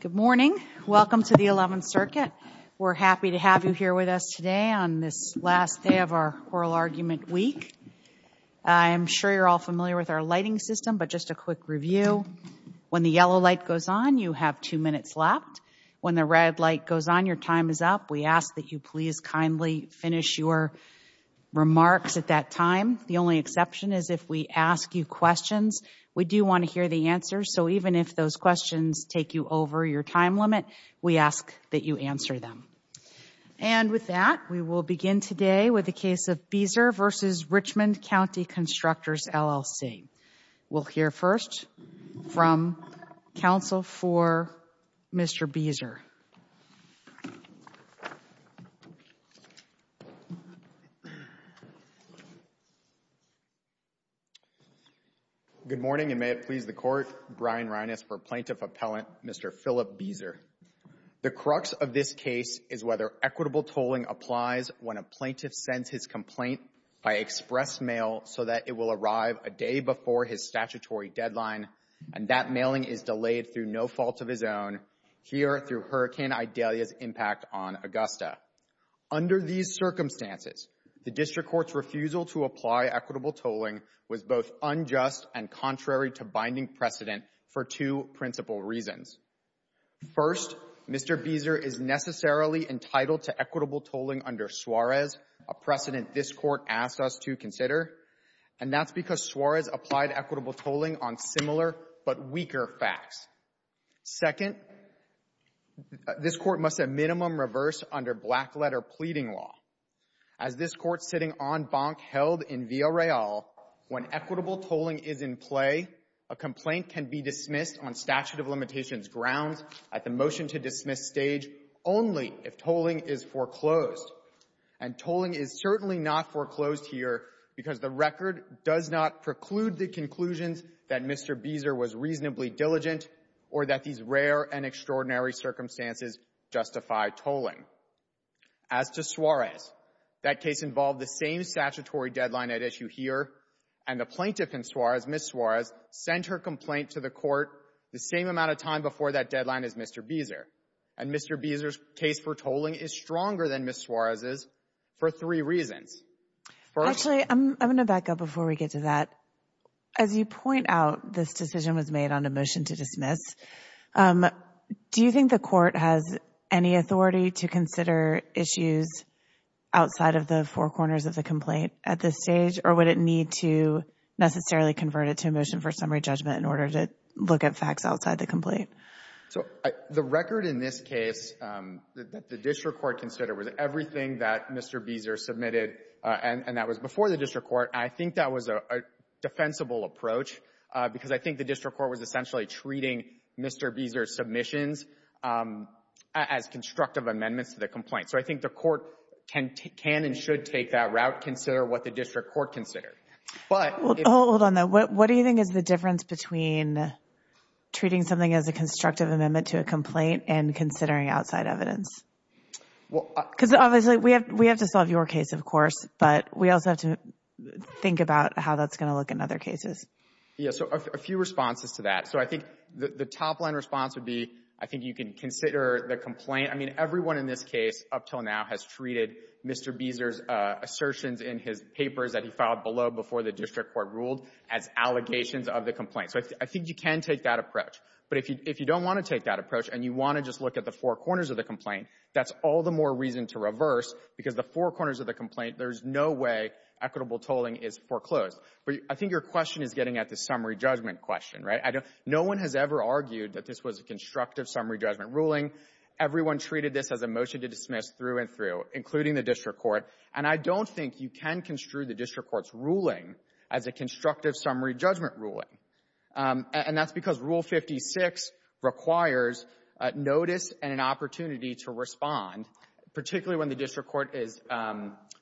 Good morning. Welcome to the 11th Circuit. We're happy to have you here with us today on this last day of our Oral Argument Week. I'm sure you're all familiar with our lighting system, but just a quick review. When the yellow light goes on, you have two minutes left. When the red light goes on, your time is up. We ask that you please kindly finish your remarks at that time. The only exception is if we ask you questions. We do want to hear the answers, so even if those questions take you over your time limit, we ask that you answer them. And with that, we will begin today with the case of Beazer v. Richmond County Constructors, LLC. We'll hear first from counsel for Mr. Beazer. Good morning, and may it please the Court, Brian Reines for Plaintiff Appellant Mr. Philip Beazer. The crux of this case is whether equitable tolling applies when a plaintiff sends his complaint by express mail so that it will arrive a day before his statutory deadline, and that mailing is delayed through no fault of his own, here through Hurricane Idalia's impact on Augusta. Under these circumstances, the District Court's refusal to apply equitable tolling was both unjust and contrary to binding precedent for two principal reasons. First, Mr. Beazer is necessarily entitled to equitable tolling under Suarez, a precedent this Court asked us to consider, and that's because Suarez applied equitable tolling on similar but weaker facts. Second, this Court must at minimum reverse under black-letter pleading law. As this Court sitting en banc held in Villareal, when equitable tolling is in play, a complaint can be dismissed on statute of limitations grounds at the motion-to-dismiss stage only if tolling is foreclosed. And tolling is certainly not foreclosed here because the record does not preclude the conclusions that Mr. Beazer was reasonably diligent or that these rare and extraordinary circumstances justify tolling. As to Suarez, that case involved the same statutory deadline at issue here, and the plaintiff in Suarez, Ms. Suarez, sent her complaint to the Court the same amount of time before that deadline as Mr. Beazer. And Mr. Beazer's case for tolling is stronger than Ms. Suarez's for three reasons. Actually, I'm going to back up before we get to that. As you point out, this decision was made on a motion to dismiss. Do you think the Court has any authority to consider issues outside of the four corners of the complaint at this stage, or would it need to necessarily convert it to a motion for summary judgment in order to look at facts outside the complaint? So the record in this case that the district court considered was everything that Mr. Beazer submitted, and that was before the district court. I think that was a defensible approach because I think the district court was essentially treating Mr. Beazer's submissions as constructive amendments to the complaint. So I think the Court can and should take that route, consider what the district court considered. Hold on, though. What do you think is the difference between treating something as a constructive amendment to a complaint and considering outside evidence? Because obviously, we have to solve your case, of course, but we also have to think about how that's going to look in other cases. Yeah, so a few responses to that. So I think the top line response would be, I think you can consider the complaint. I mean, everyone in this case up till now has treated Mr. Beazer's assertions in his papers that he filed below before the district court ruled as allegations of the complaint. So I think you can take that approach. But if you don't want to take that approach and you want to just look at the four corners of the complaint, that's all the more reason to reverse because the four corners of the complaint, there's no way equitable tolling is foreclosed. But I think your question is getting at the summary judgment question, right? No one has ever argued that this was a constructive summary judgment ruling. Everyone treated this as a motion to dismiss through and through, including the district court. And I don't think you can construe the district court's ruling as a constructive summary judgment ruling. And that's because Rule 56 requires notice and an opportunity to respond, particularly when the district court is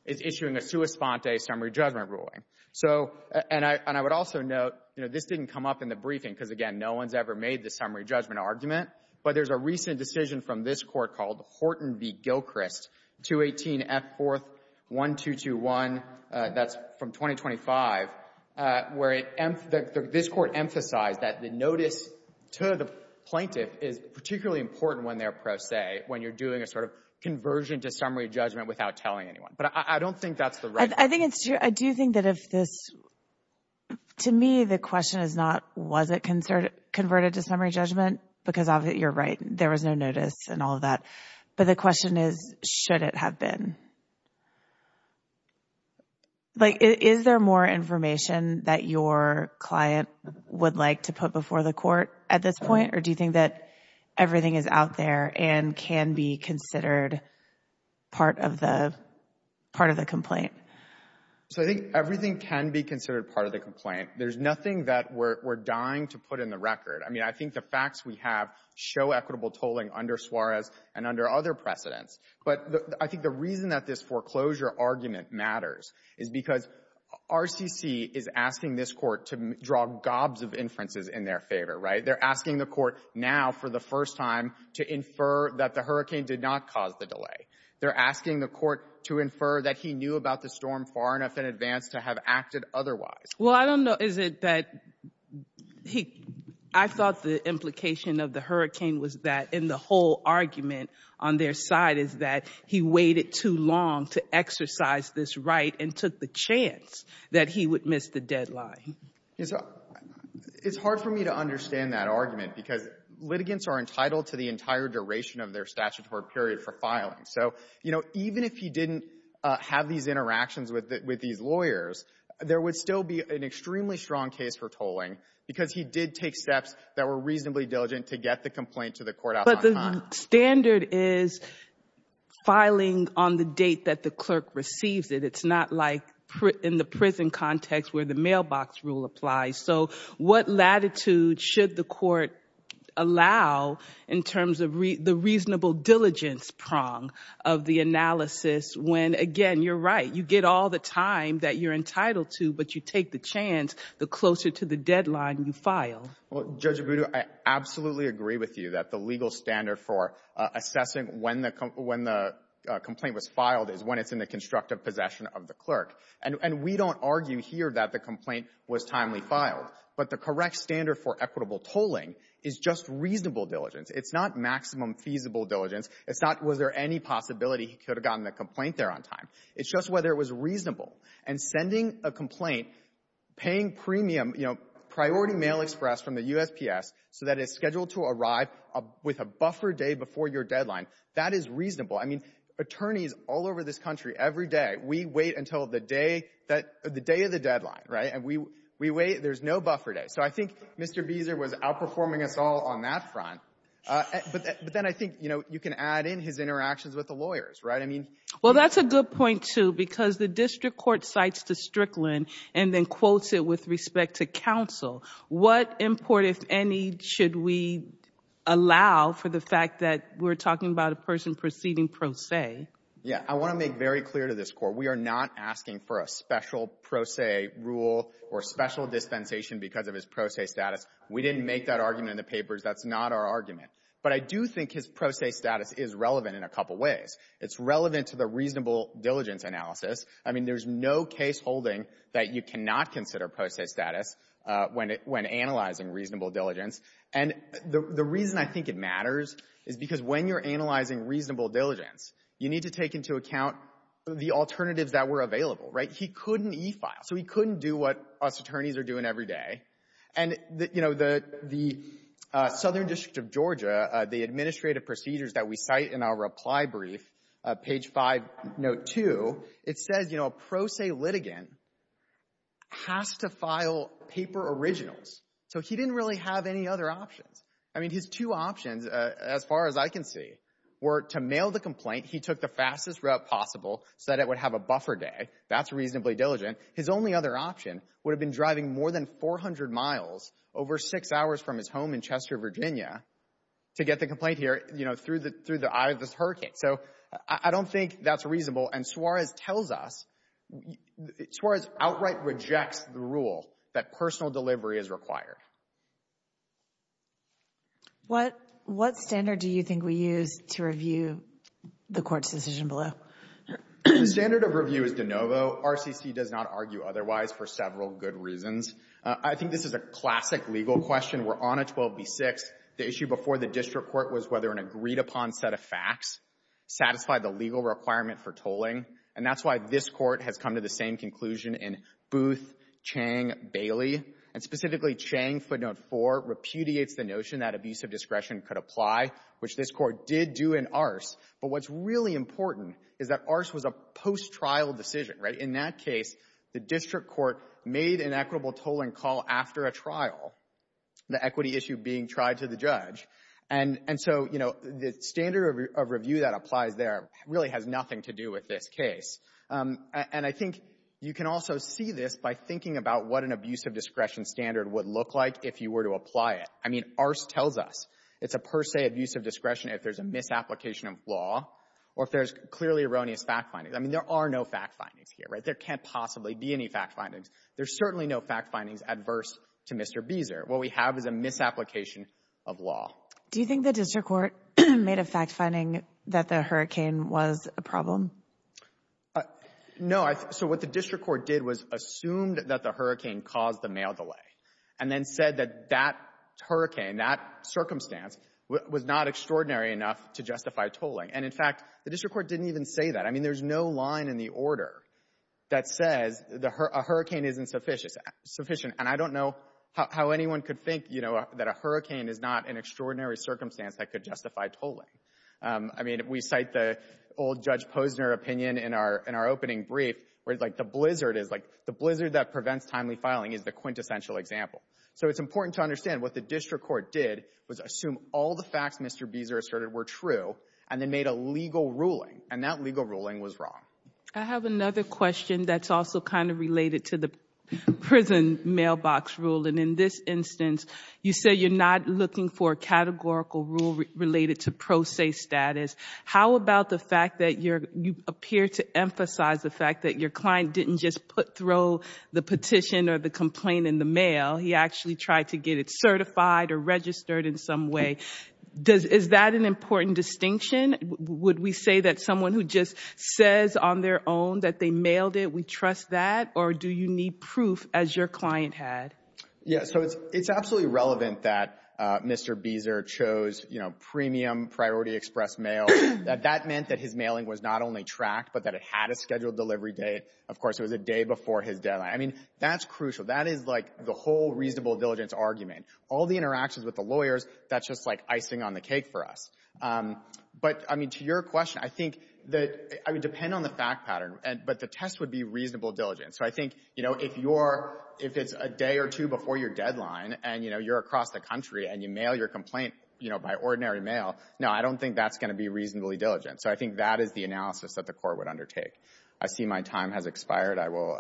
issuing a sua sponte summary judgment ruling. So and I would also note, you know, this didn't come up in the briefing because, again, no one's ever made the summary judgment argument. But there's a recent decision from this Court called Horton v. Gilchrist, 218F4-1221, that's from 2025, where it this Court emphasized that the notice to the plaintiff is particularly important when they're pro se, when you're doing a sort of conversion to summary judgment without telling anyone. But I don't think that's the right thing. I think it's true. I do think that if this, to me, the question is not, was it converted to summary judgment? Because you're right, there was no notice and all of that. But the question is, should it have been? Like, is there more information that your client would like to put before the Court at this point? Or do you think that everything is out there and can be considered part of the complaint? So I think everything can be considered part of the complaint. There's nothing that we're dying to put in the record. I mean, I think the facts we have show equitable tolling under Suarez and under other precedents. But I think the reason that this foreclosure argument matters is because RCC is asking this Court to draw gobs of inferences in their favor, right? They're asking the Court now, for the first time, to infer that the hurricane did not cause the delay. They're asking the Court to infer that he knew about the storm far enough in advance to have acted otherwise. Well, I don't know. Is it that he, I thought the implication of the hurricane was that in the whole argument on their side is that he waited too long to exercise this right and took the chance that he would miss the deadline. It's hard for me to understand that argument because litigants are entitled to the entire duration of their statutory period for filing. So, you know, even if he didn't have these interactions with these lawyers, there would still be an extremely strong case for tolling because he did take steps that were reasonably diligent to get the complaint to the Court outside time. But the standard is filing on the date that the clerk receives it. It's not like in the prison context where the mailbox rule applies. So what latitude should the Court allow in terms of the reasonable diligence prong of the analysis when, again, you're right, you get all the time that you're entitled to, but you take the chance the closer to the deadline you file? Well, Judge Abudu, I absolutely agree with you that the legal standard for assessing when the complaint was filed is when it's in the constructive possession of the clerk. And we don't argue here that the complaint was timely filed. But the correct standard for equitable tolling is just reasonable diligence. It's not maximum feasible diligence. It's not was there any possibility he could have gotten the complaint there on time. It's just whether it was reasonable. And sending a complaint, paying premium, you know, priority mail express from the USPS so that it's scheduled to arrive with a buffer day before your deadline, that is reasonable. I mean, attorneys all over this country, every day, we wait until the day of the deadline, right? And we wait. There's no buffer day. So I think Mr. Beazer was outperforming us all on that front. But then I think, you know, you can add in his interactions with the lawyers, right? I mean... Well, that's a good point, too, because the district court cites the Strickland and then quotes it with respect to counsel. What import, if any, should we allow for the fact that we're talking about a person proceeding pro se? Yeah. I want to make very clear to this Court. We are not asking for a special pro se rule or special dispensation because of his pro se status. We didn't make that argument in the papers. That's not our argument. But I do think his pro se status is relevant in a couple ways. It's relevant to the reasonable diligence analysis. I mean, there's no caseholding that you cannot consider pro se status when it — when analyzing reasonable diligence. And the reason I think it matters is because when you're analyzing reasonable diligence, you need to take into account the alternatives that were available, right? He couldn't e-file, so he couldn't do what us attorneys are doing every day. And, you know, the Southern District of Georgia, the administrative procedures that we cite in our reply brief, page 5, note 2, it says, you know, a pro se litigant has to file paper originals. So he didn't really have any other options. I mean, his two options, as far as I can see, were to mail the complaint. He took the fastest route possible so that it would have a buffer day. That's reasonably diligent. His only other option would have been driving more than 400 miles, over six hours from his home in Chester, Virginia, to get the complaint here, you know, through the — through the eye of this hurricane. So I don't think that's reasonable. And Suarez tells us — Suarez outright rejects the rule that personal delivery is required. What — what standard do you think we use to review the court's decision below? The standard of review is de novo. RCC does not argue otherwise for several good reasons. I think this is a classic legal question. We're on a 12B6. The issue before the district court was whether an agreed-upon set of facts satisfied the legal requirement for tolling. And that's why this court has come to the same conclusion in Booth, Chang, Bailey. And specifically, Chang, footnote 4, repudiates the notion that abusive discretion could apply, which this court did do in Arce. But what's really important is that Arce was a post-trial decision, right? In that case, the district court made an equitable tolling call after a trial, the equity issue being tried to the judge. And — and so, you know, the standard of review that applies there really has nothing to do with this case. And I think you can also see this by thinking about what an abusive discretion standard would look like if you were to apply it. I mean, Arce tells us it's a per se abusive discretion if there's a misapplication of law or if there's clearly erroneous fact findings. I mean, there are no fact findings here, right? There can't possibly be any fact findings. There's certainly no fact findings adverse to Mr. Beazer. What we have is a misapplication of law. Do you think the district court made a fact finding that the hurricane was a problem? No. So what the district court did was assumed that the hurricane caused the mail delay and then said that that hurricane, that circumstance was not extraordinary enough to justify tolling. And, in fact, the district court didn't even say that. I mean, there's no line in the order that says a hurricane isn't sufficient. And I don't know how anyone could think, you know, that a hurricane is not an extraordinary circumstance that could justify tolling. I mean, we cite the old Judge Posner opinion in our opening brief where, like, the blizzard is, like, the blizzard that prevents timely filing is the quintessential example. So it's important to understand what the district court did was assume all the facts Mr. Beazer asserted were true and then made a legal ruling. And that legal ruling was wrong. I have another question that's also kind of related to the prison mailbox rule. And in this instance, you say you're not looking for a categorical rule related to pro se status. How about the fact that you appear to emphasize the fact that your client didn't just throw the petition or the complaint in the mail? He actually tried to get it certified or registered in some way. Is that an important distinction? Would we say that someone who just says on their own that they mailed it, we trust that? Or do you need proof as your client had? So it's absolutely relevant that Mr. Beazer chose, you know, premium priority express mail, that that meant that his mailing was not only tracked, but that it had a scheduled delivery date. Of course, it was a day before his deadline. I mean, that's crucial. That is, like, the whole reasonable diligence argument. All the interactions with the lawyers, that's just, like, icing on the cake for us. But, I mean, to your question, I think that it would depend on the fact pattern. But the test would be reasonable diligence. So I think, you know, if it's a day or two before your deadline and, you know, you're across the country and you mail your complaint, you know, by ordinary mail, no, I don't think that's going to be reasonably diligent. So I think that is the analysis that the court would undertake. I see my time has expired. I will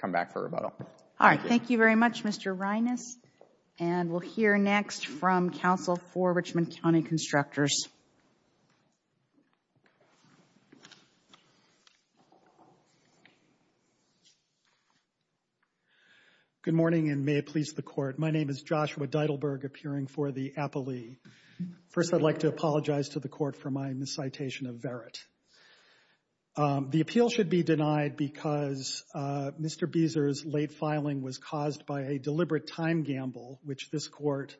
come back for rebuttal. All right. Thank you very much, Mr. Reines. And we'll hear next from counsel for Richmond County Constructors. Good morning, and may it please the Court. My name is Joshua Deidelberg, appearing for the appellee. First, I'd like to apologize to the Court for my miscitation of Verrett. The appeal should be denied because Mr. Beazer's late filing was caused by a deliberate time gamble, which this Court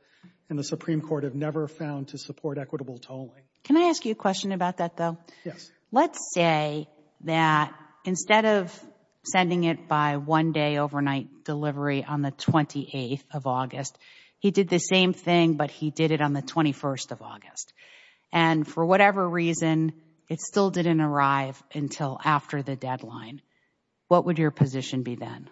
and the Supreme Court have never found to support equitable tolling. Can I ask you a question about that, though? Yes. Let's say that instead of sending it by one day overnight delivery on the 28th of August, he did the same thing, but he did it on the 21st of August. And for whatever reason, it still didn't arrive until after the deadline. What would your position be then?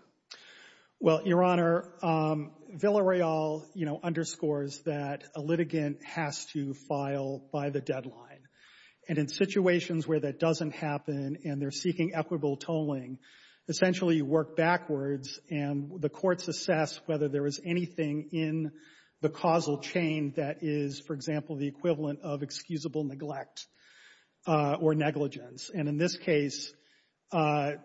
Well, Your Honor, Villareal, you know, underscores that a litigant has to file by the deadline. And in situations where that doesn't happen and they're seeking equitable tolling, essentially you work backwards, and the courts assess whether there is anything in the causal chain that is, for example, the equivalent of excusable neglect or negligence. And in this case, Mr.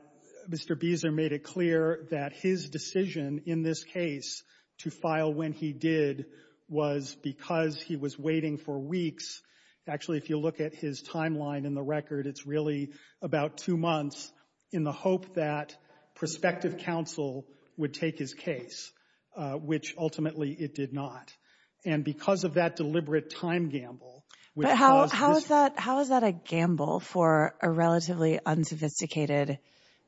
Beazer made it clear that his decision in this case to file when he did was because he was waiting for weeks. Actually, if you look at his timeline in the record, it's really about two months in the hope that prospective counsel would take his case, which ultimately it did not. And because of that deliberate time gamble, which caused this— But how is that a gamble for a relatively unsophisticated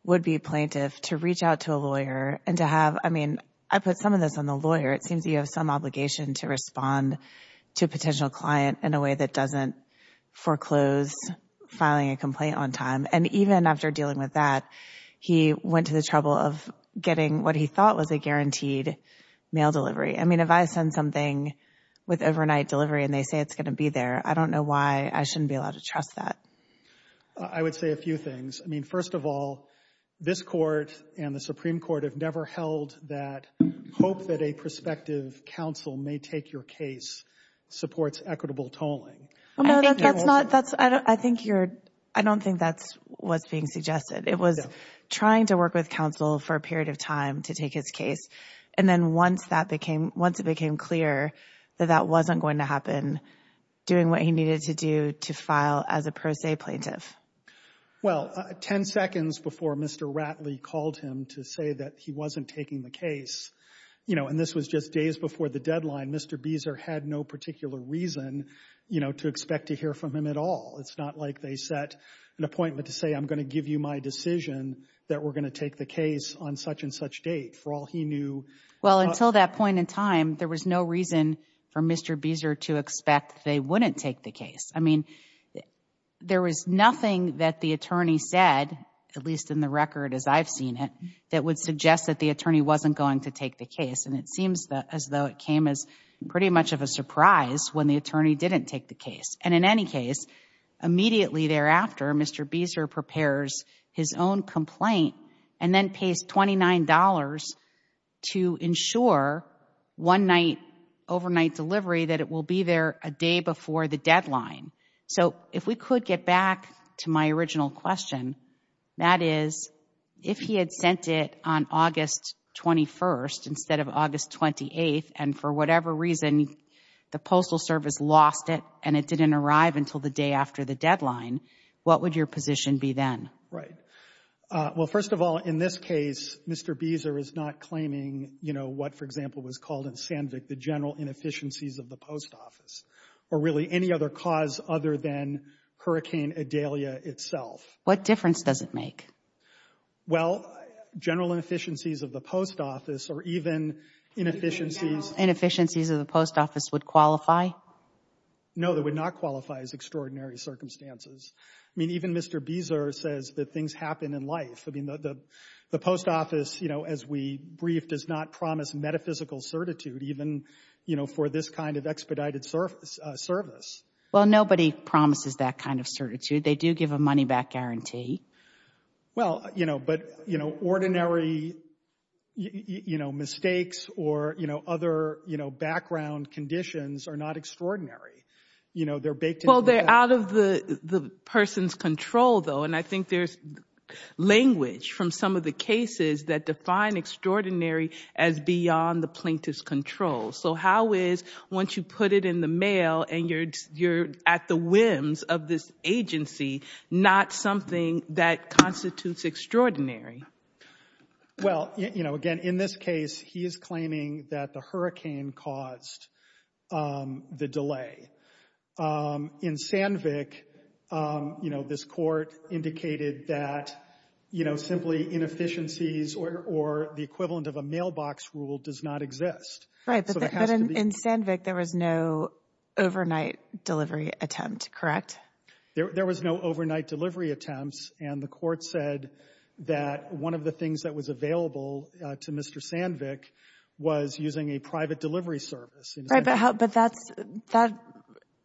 would-be plaintiff to reach out to a lawyer and to have—I mean, I put some of this on the lawyer. It seems you have some obligation to respond to a potential client in a way that doesn't foreclose filing a complaint on time. And even after dealing with that, he went to the trouble of getting what he thought was a guaranteed mail delivery. I mean, if I send something with overnight delivery and they say it's going to be there, I don't know why I shouldn't be allowed to trust that. I would say a few things. I mean, first of all, this Court and the Supreme Court have never held that hope that a prospective counsel may take your case supports equitable tolling. No, that's not—I think you're—I don't think that's what's being suggested. It was trying to work with counsel for a period of time to take his case. And then once that became—once it became clear that that wasn't going to happen, doing what he needed to do to file as a pro se plaintiff. Well, 10 seconds before Mr. Ratley called him to say that he wasn't taking the case, you know, and this was just days before the deadline, Mr. Beezer had no particular reason, you know, to expect to hear from him at all. It's not like they set an appointment to say, I'm going to give you my decision that we're going to take the case on such and such date. For all he knew— Well, until that point in time, there was no reason for Mr. Beezer to expect they wouldn't take the case. I mean, there was nothing that the attorney said, at least in the record as I've seen it, that would suggest that the attorney wasn't going to take the case. And it seems as though it came as pretty much of a surprise when the attorney didn't take the case. And in any case, immediately thereafter, Mr. Beezer prepares his own complaint and then pays $29 to ensure one night, overnight delivery that it will be there a day before the deadline. So if we could get back to my original question, that is, if he had sent it on August 21st instead of August 28th, and for whatever reason, the Postal Service lost it and it didn't arrive until the day after the deadline, what would your position be then? Right. Well, first of all, in this case, Mr. Beezer is not claiming, you know, what, for example, was called in Sandvik, the general inefficiencies of the post office, or really any other cause other than Hurricane Adelia itself. What difference does it make? Well, general inefficiencies of the post office, or even inefficiencies Inefficiencies of the post office would qualify? No, that would not qualify as extraordinary circumstances. I mean, even Mr. Beezer says that things happen in life. I mean, the post office, you know, as we briefed, does not promise metaphysical certitude, even, you know, for this kind of expedited service. Well, nobody promises that kind of certitude. They do give a money back guarantee. Well, you know, but, you know, ordinary, you know, mistakes or, you know, other, you know, background conditions are not extraordinary. You know, they're baked into the... Well, they're out of the person's control, though. And I think there's language from some of the cases that define extraordinary as beyond the plaintiff's control. So how is, once you put it in the mail and you're at the whims of this agency, not something that constitutes extraordinary? Well, you know, again, in this case, he is claiming that the hurricane caused the delay. In Sandvik, you know, this court indicated that, you know, simply inefficiencies or the equivalent of a mailbox rule does not exist. Right, but in Sandvik, there was no overnight delivery attempt, correct? There was no overnight delivery attempts, and the court said that one of the things that was available to Mr. Sandvik was using a private delivery service. Right, but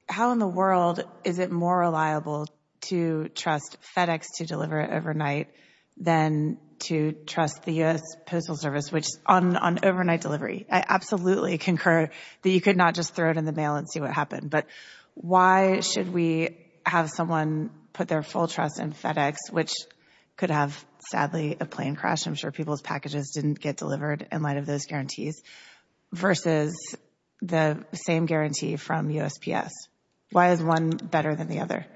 how in the world is it more reliable to trust FedEx to deliver it overnight than to trust the U.S. Postal Service on overnight delivery? I absolutely concur that you could not just throw it in the mail and see what happened. But why should we have someone put their full trust in FedEx, which could have, sadly, a plane crash? I'm sure people's packages didn't get delivered in light of those guarantees, versus the same guarantee from USPS. Why is one better than the other?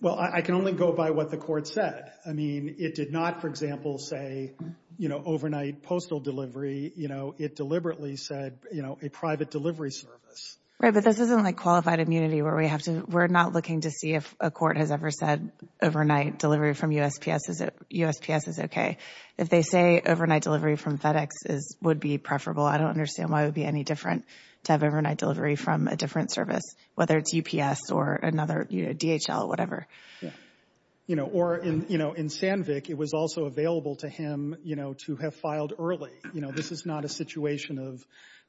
Well, I can only go by what the court said. I mean, it did not, for example, say, you know, overnight postal delivery. You know, it deliberately said, you know, a private delivery service. Right, but this isn't like qualified immunity where we have to, we're not looking to see if a court has ever said overnight delivery from USPS is okay. If they say overnight delivery from FedEx would be preferable, I don't understand why it would be any different to have overnight delivery from a different service, whether it's UPS or another, you know, DHL, whatever. You know, or in Sandvik, it was also available to him, you know, to have filed early. You know, this is not a situation of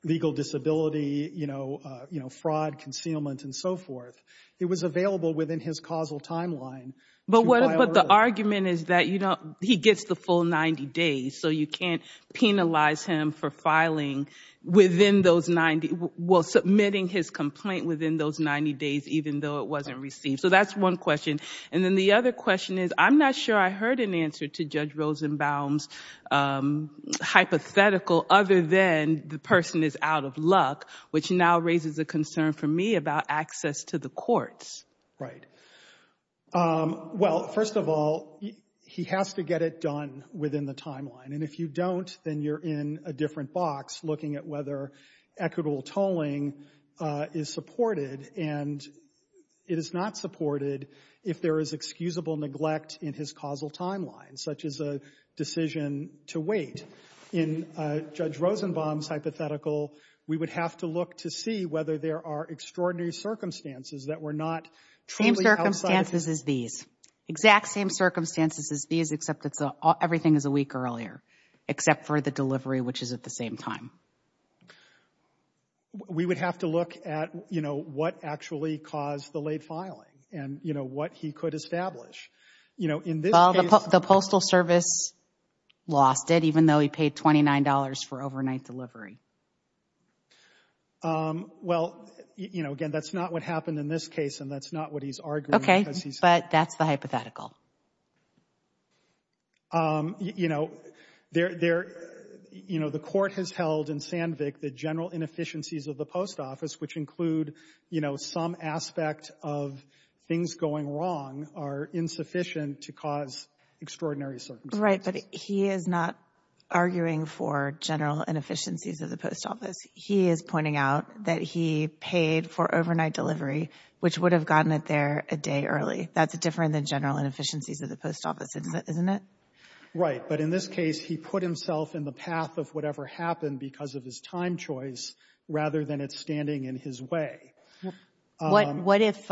legal disability, you know, fraud, concealment, and so forth. It was available within his causal timeline. But the argument is that, you know, he gets the full 90 days, so you can't penalize him for filing within those 90, well, submitting his complaint within those 90 days, even though it wasn't received. So that's one question. And then the other question is, I'm not sure I heard an answer to Judge Rosenbaum's hypothetical other than the person is out of luck, which now raises a concern for me about access to the courts. Right. Well, first of all, he has to get it done within the timeline. And if you don't, then you're in a different box looking at whether equitable tolling is supported. And it is not supported if there is excusable neglect in his causal timeline, such as a decision to wait. In Judge Rosenbaum's hypothetical, we would have to look to see whether there are extraordinary circumstances that were not truly outside of his— Same circumstances as these. Exact same circumstances as these, except everything is a week earlier, except for the delivery, which is at the same time. We would have to look at, you know, what actually caused the late filing and, you know, what he could establish. You know, in this case— Well, the Postal Service lost it, even though he paid $29 for overnight delivery. Well, you know, again, that's not what happened in this case, and that's not what he's arguing because he's— Okay, but that's the hypothetical. You know, there— You know, the court has held in Sandvik that general inefficiencies of the post office, which include, you know, some aspect of things going wrong, are insufficient to cause extraordinary circumstances. Right, but he is not arguing for general inefficiencies of the post office. He is pointing out that he paid for overnight delivery, which would have gotten it there a day early. That's different than general inefficiencies of the post office, isn't it? Right, but in this case, he put himself in the path of whatever happened because of his time choice, rather than it standing in his way. What if—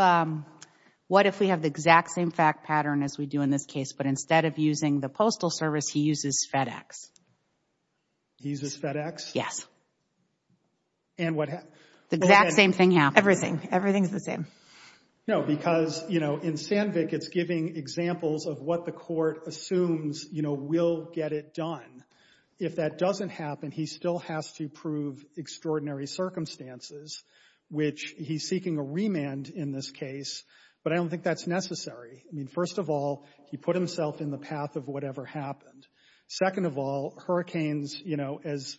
What if we have the exact same fact pattern as we do in this case, but instead of using the Postal Service, he uses FedEx? He uses FedEx? Yes. And what— The exact same thing happened. Everything. Everything's the same. No, because, you know, in Sandvik, it's giving examples of what the court assumes, you know, will get it done. If that doesn't happen, he still has to prove extraordinary circumstances, which he's seeking a remand in this case, but I don't think that's necessary. I mean, first of all, he put himself in the path of whatever happened. Second of all, hurricanes, you know, as,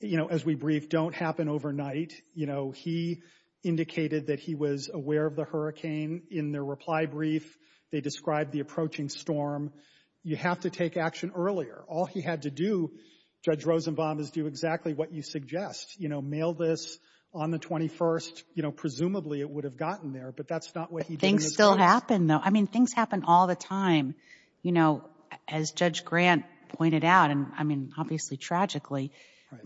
you know, as we briefed, don't happen overnight. You know, he indicated that he was aware of the hurricane in their reply brief. They described the approaching storm. You have to take action earlier. All he had to do, Judge Rosenbaum, is do exactly what you suggest. You know, mail this on the 21st. You know, presumably, it would have gotten there, but that's not what he did in this case. Things still happen, though. I mean, things happen all the time. You know, as Judge Grant pointed out, and I mean, obviously, tragically,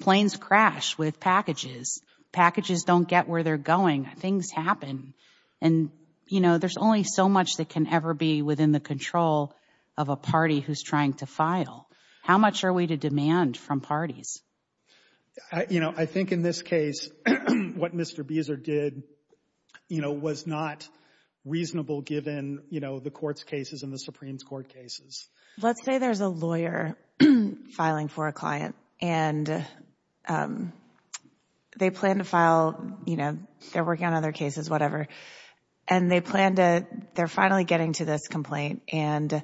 planes crash with packages. Packages don't get where they're going. Things happen. And, you know, there's only so much that can ever be within the control of a party who's trying to file. How much are we to demand from parties? You know, I think in this case, what Mr. Beazer did, you know, was not reasonable given, you know, the court's cases and the Supreme Court cases. Let's say there's a lawyer filing for a client and they plan to file, you know, they're working on other cases, whatever, and they plan to, they're finally getting to this complaint and,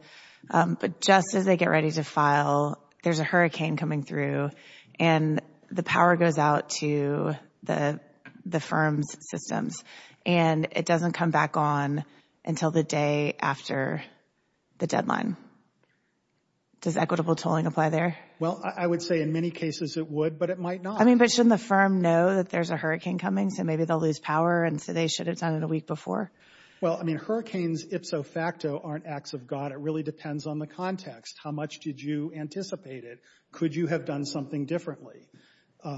but just as they get ready to file, there's a hurricane coming through and the power goes out to the firm's systems and it doesn't come back on until the day after the deadline. Does equitable tolling apply there? Well, I would say in many cases it would, but it might not. I mean, but shouldn't the firm know that there's a hurricane coming, so maybe they'll lose power and so they should have done it a week before? Well, I mean, hurricanes, ipso facto, aren't acts of God. It really depends on the context. How much did you anticipate it? Could you have done something differently?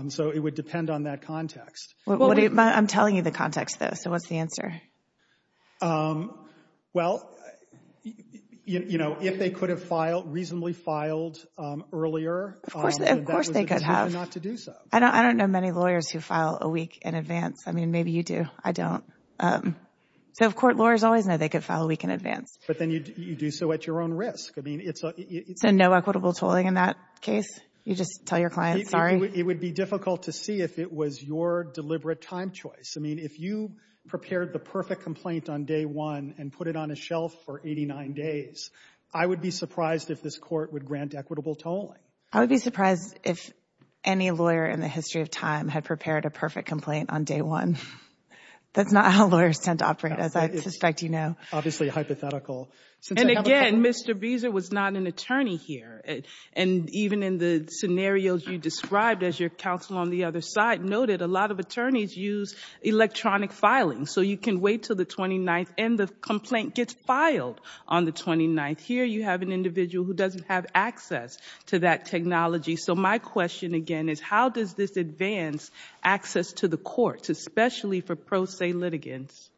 So it would depend on that context. Well, I'm telling you the context, though, so what's the answer? Well, you know, if they could have filed, reasonably filed earlier. Of course, of course they could have. It's human not to do so. I don't know many lawyers who file a week in advance. I mean, maybe you do. I don't. So, of course, lawyers always know they could file a week in advance. But then you do so at your own risk. I mean, it's a... So no equitable tolling in that case? You just tell your client, sorry? It would be difficult to see if it was your deliberate time choice. I mean, if you prepared the perfect complaint on day one and put it on a shelf for 89 days, I would be surprised if this court would grant equitable tolling. I would be surprised if any lawyer in the history of time had prepared a perfect complaint on day one. That's not how lawyers tend to operate, as I suspect you know. Obviously hypothetical. And again, Mr. Beazer was not an attorney here. And even in the scenarios you described, as your counsel on the other side noted, a lot of attorneys use electronic filing. So you can wait till the 29th and the complaint gets filed on the 29th. Here you have an individual who doesn't have access to that technology. So my question again is, how does this advance access to the courts, especially for pro se litigants?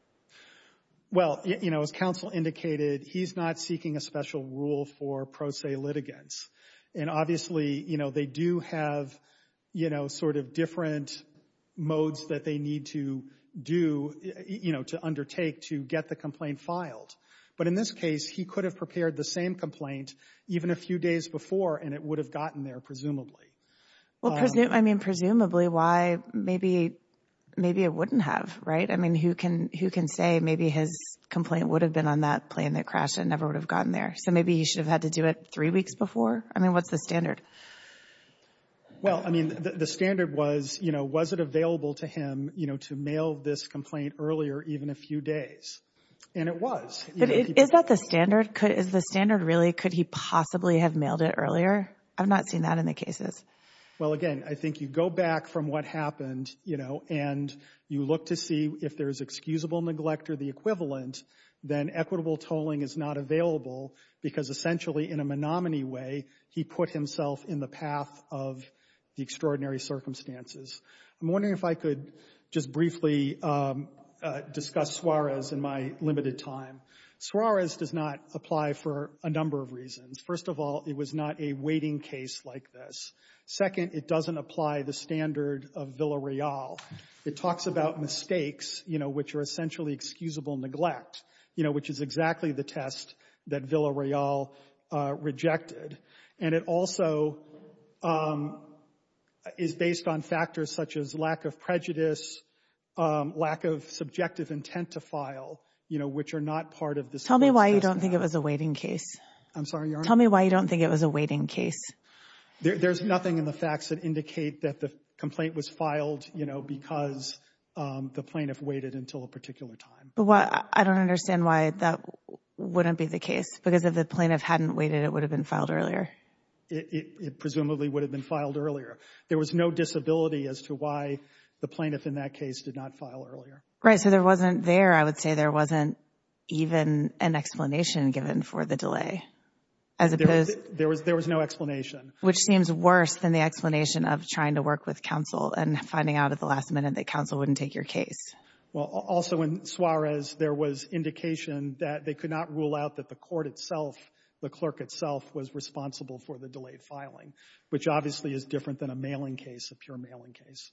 Well, you know, as counsel indicated, he's not seeking a special rule for pro se litigants. And obviously, you know, they do have, you know, sort of different modes that they need to do, you know, to undertake to get the complaint filed. But in this case, he could have prepared the same complaint even a few days before and it would have gotten there, presumably. Well, I mean, presumably why? Maybe it wouldn't have, right? I mean, who can say maybe his complaint would have been on that plane that crashed and never would have gotten there. So maybe you should have had to do it three weeks before. I mean, what's the standard? Well, I mean, the standard was, you know, was it available to him, you know, to mail this complaint earlier, even a few days? And it was. Is that the standard? Is the standard really, could he possibly have mailed it earlier? I've not seen that in the cases. Well, again, I think you go back from what happened, you know, and you look to see if there's excusable neglect or the equivalent, then equitable tolling is not available because essentially in a Menominee way, he put himself in the path of the extraordinary circumstances. I'm wondering if I could just briefly discuss Suarez in my limited time. Suarez does not apply for a number of reasons. First of all, it was not a waiting case like this. Second, it doesn't apply the standard of Villareal. It talks about mistakes, you know, which are essentially excusable neglect, you know, which is exactly the test that Villareal rejected. And it also is based on factors such as lack of prejudice, lack of subjective intent to file, you know, which are not part of this. Tell me why you don't think it was a waiting case. I'm sorry. Tell me why you don't think it was a waiting case. There's nothing in the facts that indicate that the complaint was filed, you know, because the plaintiff waited until a particular time. But I don't understand why that wouldn't be the case because if the plaintiff hadn't waited, it would have been filed earlier. It presumably would have been filed earlier. There was no disability as to why the plaintiff in that case did not file earlier. Right. So there wasn't there. I would say there wasn't even an explanation given for the delay. There was no explanation. Which seems worse than the explanation of trying to work with counsel and finding out at the last minute that counsel wouldn't take your case. Well, also in Suarez, there was indication that they could not rule out that the court itself, the clerk itself, was responsible for the delayed filing, which obviously is different than a mailing case, a pure mailing case.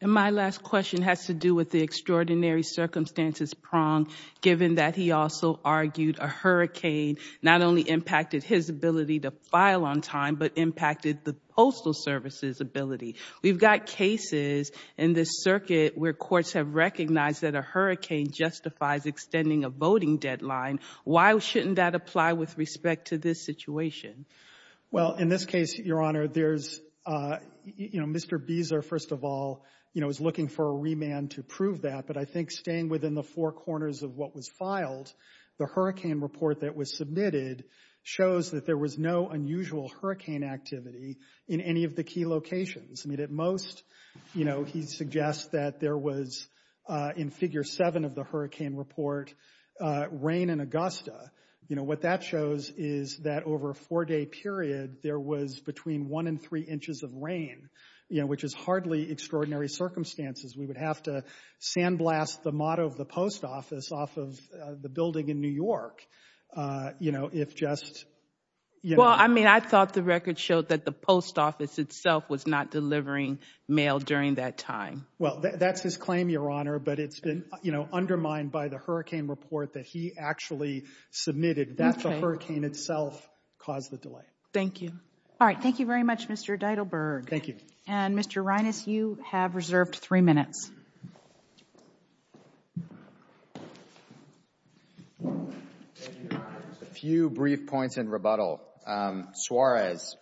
And my last question has to do with the extraordinary circumstances Prong, given that he also argued a hurricane not only impacted his ability to file on time, but impacted the Postal Services ability. We've got cases in this circuit where courts have recognized that a hurricane justifies extending a voting deadline. Why shouldn't that apply with respect to this situation? Well, in this case, Your Honor, there's, you know, Mr. Beazer, first of all, you know, is looking for a remand to prove that. But I think staying within the four corners of what was filed, the hurricane report that was submitted shows that there was no unusual hurricane activity in any of the key locations. I mean, at most, you know, he suggests that there was, in figure seven of the hurricane report, rain in Augusta. You know, what that shows is that over a four day period, there was between one and three inches of rain, you know, which is hardly extraordinary circumstances. We would have to sandblast the motto of the post office off of the building in New York, you know, if just, you know. Well, I mean, I thought the record showed the post office itself was not delivering mail during that time. Well, that's his claim, Your Honor. But it's been, you know, undermined by the hurricane report that he actually submitted. That's the hurricane itself caused the delay. Thank you. All right. Thank you very much, Mr. Deidelberg. Thank you. And Mr. Reines, you have reserved three minutes. A few brief points in rebuttal. Suarez.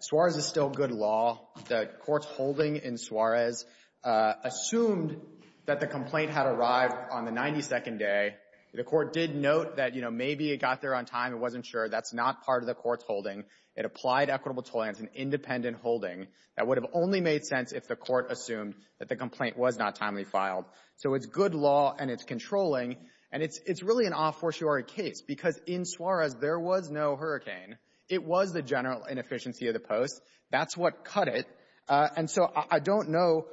Suarez is still good law. The court's holding in Suarez assumed that the complaint had arrived on the 92nd day. The court did note that, you know, maybe it got there on time. It wasn't sure. That's not part of the court's holding. It applied equitable tolerance, an independent holding that would have only made sense if the court assumed that the complaint was not timely filed. So it's good law and it's controlling. And it's really an a fortiori case because in Suarez, there was no hurricane. It was the general inefficiency of the post. That's what cut it. And so I don't know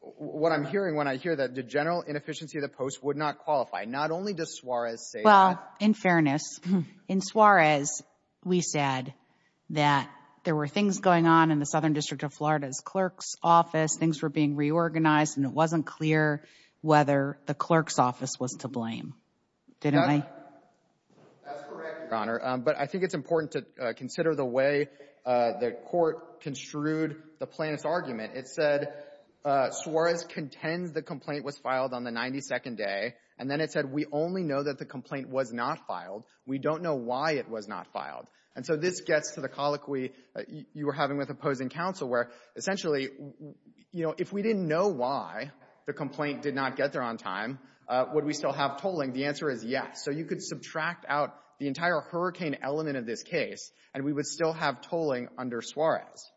what I'm hearing when I hear that the general inefficiency of the post would not qualify. Not only does Suarez say that. Well, in fairness, in Suarez, we said that there were things going on in the Southern District of Florida's clerk's office. Things were being reorganized and it wasn't clear whether the clerk's office was to blame. Didn't they? That's correct, Your Honor. But I think it's important to consider the way the court construed the plaintiff's argument. It said, Suarez contends the complaint was filed on the 92nd day. And then it said, we only know that the complaint was not filed. We don't know why it was not filed. And so this gets to the colloquy you were having with opposing counsel, where essentially, you know, if we didn't know why the complaint did not get there on time, would we still have tolling? The answer is yes. So you could subtract out the entire hurricane element of this case, and we would still have tolling under Suarez.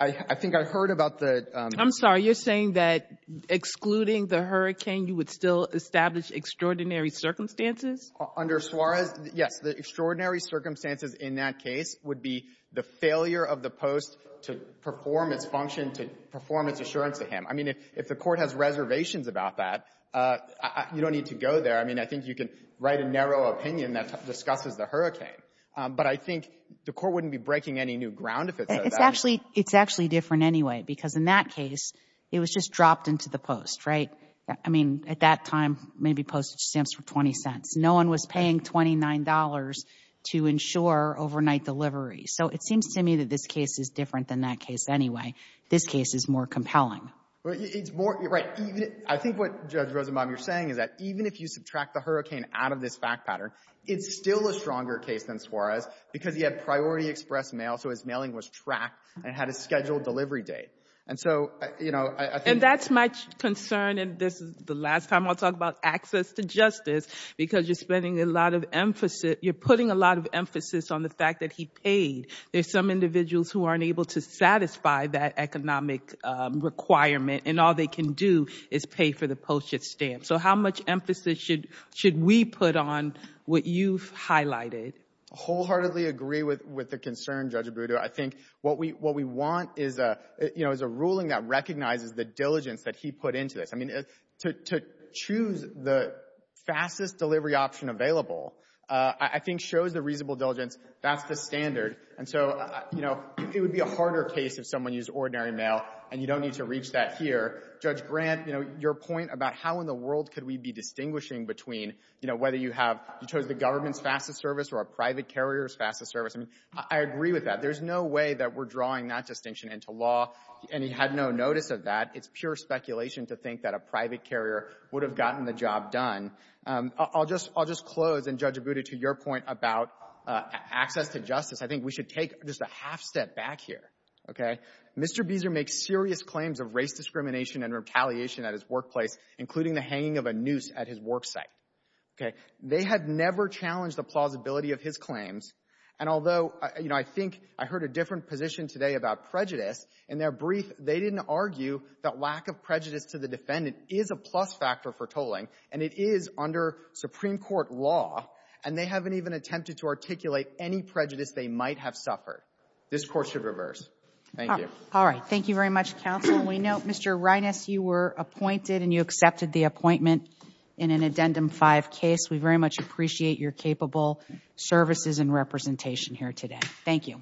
I think I heard about the — I'm sorry. You're saying that excluding the hurricane, you would still establish extraordinary circumstances? Under Suarez, yes. The extraordinary circumstances in that case would be the failure of the post to perform its function, to perform its assurance to him. I mean, if the court has reservations about that, you don't need to go there. I mean, I think you can write a narrow opinion that discusses the hurricane. But I think the court wouldn't be breaking any new ground if it says that. It's actually different anyway, because in that case, it was just dropped into the post, right? I mean, at that time, maybe postage stamps were $0.20. No one was paying $29 to ensure overnight delivery. So it seems to me that this case is different than that case anyway. This case is more compelling. Well, it's more — right. I think what, Judge Rosenbaum, you're saying is that even if you subtract the hurricane out of this fact pattern, it's still a stronger case than Suarez because he had priority express mail, so his mailing was tracked and had a scheduled delivery date. And so, you know — And that's my concern. And this is the last time I'll talk about access to justice because you're spending a lot of emphasis — you're putting a lot of emphasis on the fact that he paid. There's some individuals who aren't able to satisfy that economic requirement, and all they can do is pay for the postage stamp. So how much emphasis should we put on what you've highlighted? Wholeheartedly agree with the concern, Judge Abudu. I think what we want is a ruling that recognizes the diligence that he put into this. I mean, to choose the fastest delivery option available, I think shows the reasonable diligence. That's the standard. And so, you know, it would be a harder case if someone used ordinary mail and you don't need to reach that here. Judge Grant, you know, your point about how in the world could we be distinguishing between, you know, whether you have — you chose the government's fastest service or a private carrier's fastest service. I mean, I agree with that. There's no way that we're drawing that distinction into law, and he had no notice of that. It's pure speculation to think that a private carrier would have gotten the job done. I'll just — I'll just close, and, Judge Abudu, to your point about access to justice, I think we should take just a half step back here, OK? Mr. Beazer makes serious claims of race discrimination and retaliation at his workplace, including the hanging of a noose at his work site, OK? They have never challenged the plausibility of his claims. And although, you know, I think I heard a different position today about prejudice. In their brief, they didn't argue that lack of prejudice to the defendant is a plus factor for tolling, and it is under Supreme Court law, and they haven't even attempted to articulate any prejudice they might have suffered. This Court should reverse. Thank you. All right. Thank you very much, counsel. We know, Mr. Reines, you were appointed, and you accepted the appointment in an Addendum 5 case. We very much appreciate your capable services and representation here today. Thank you.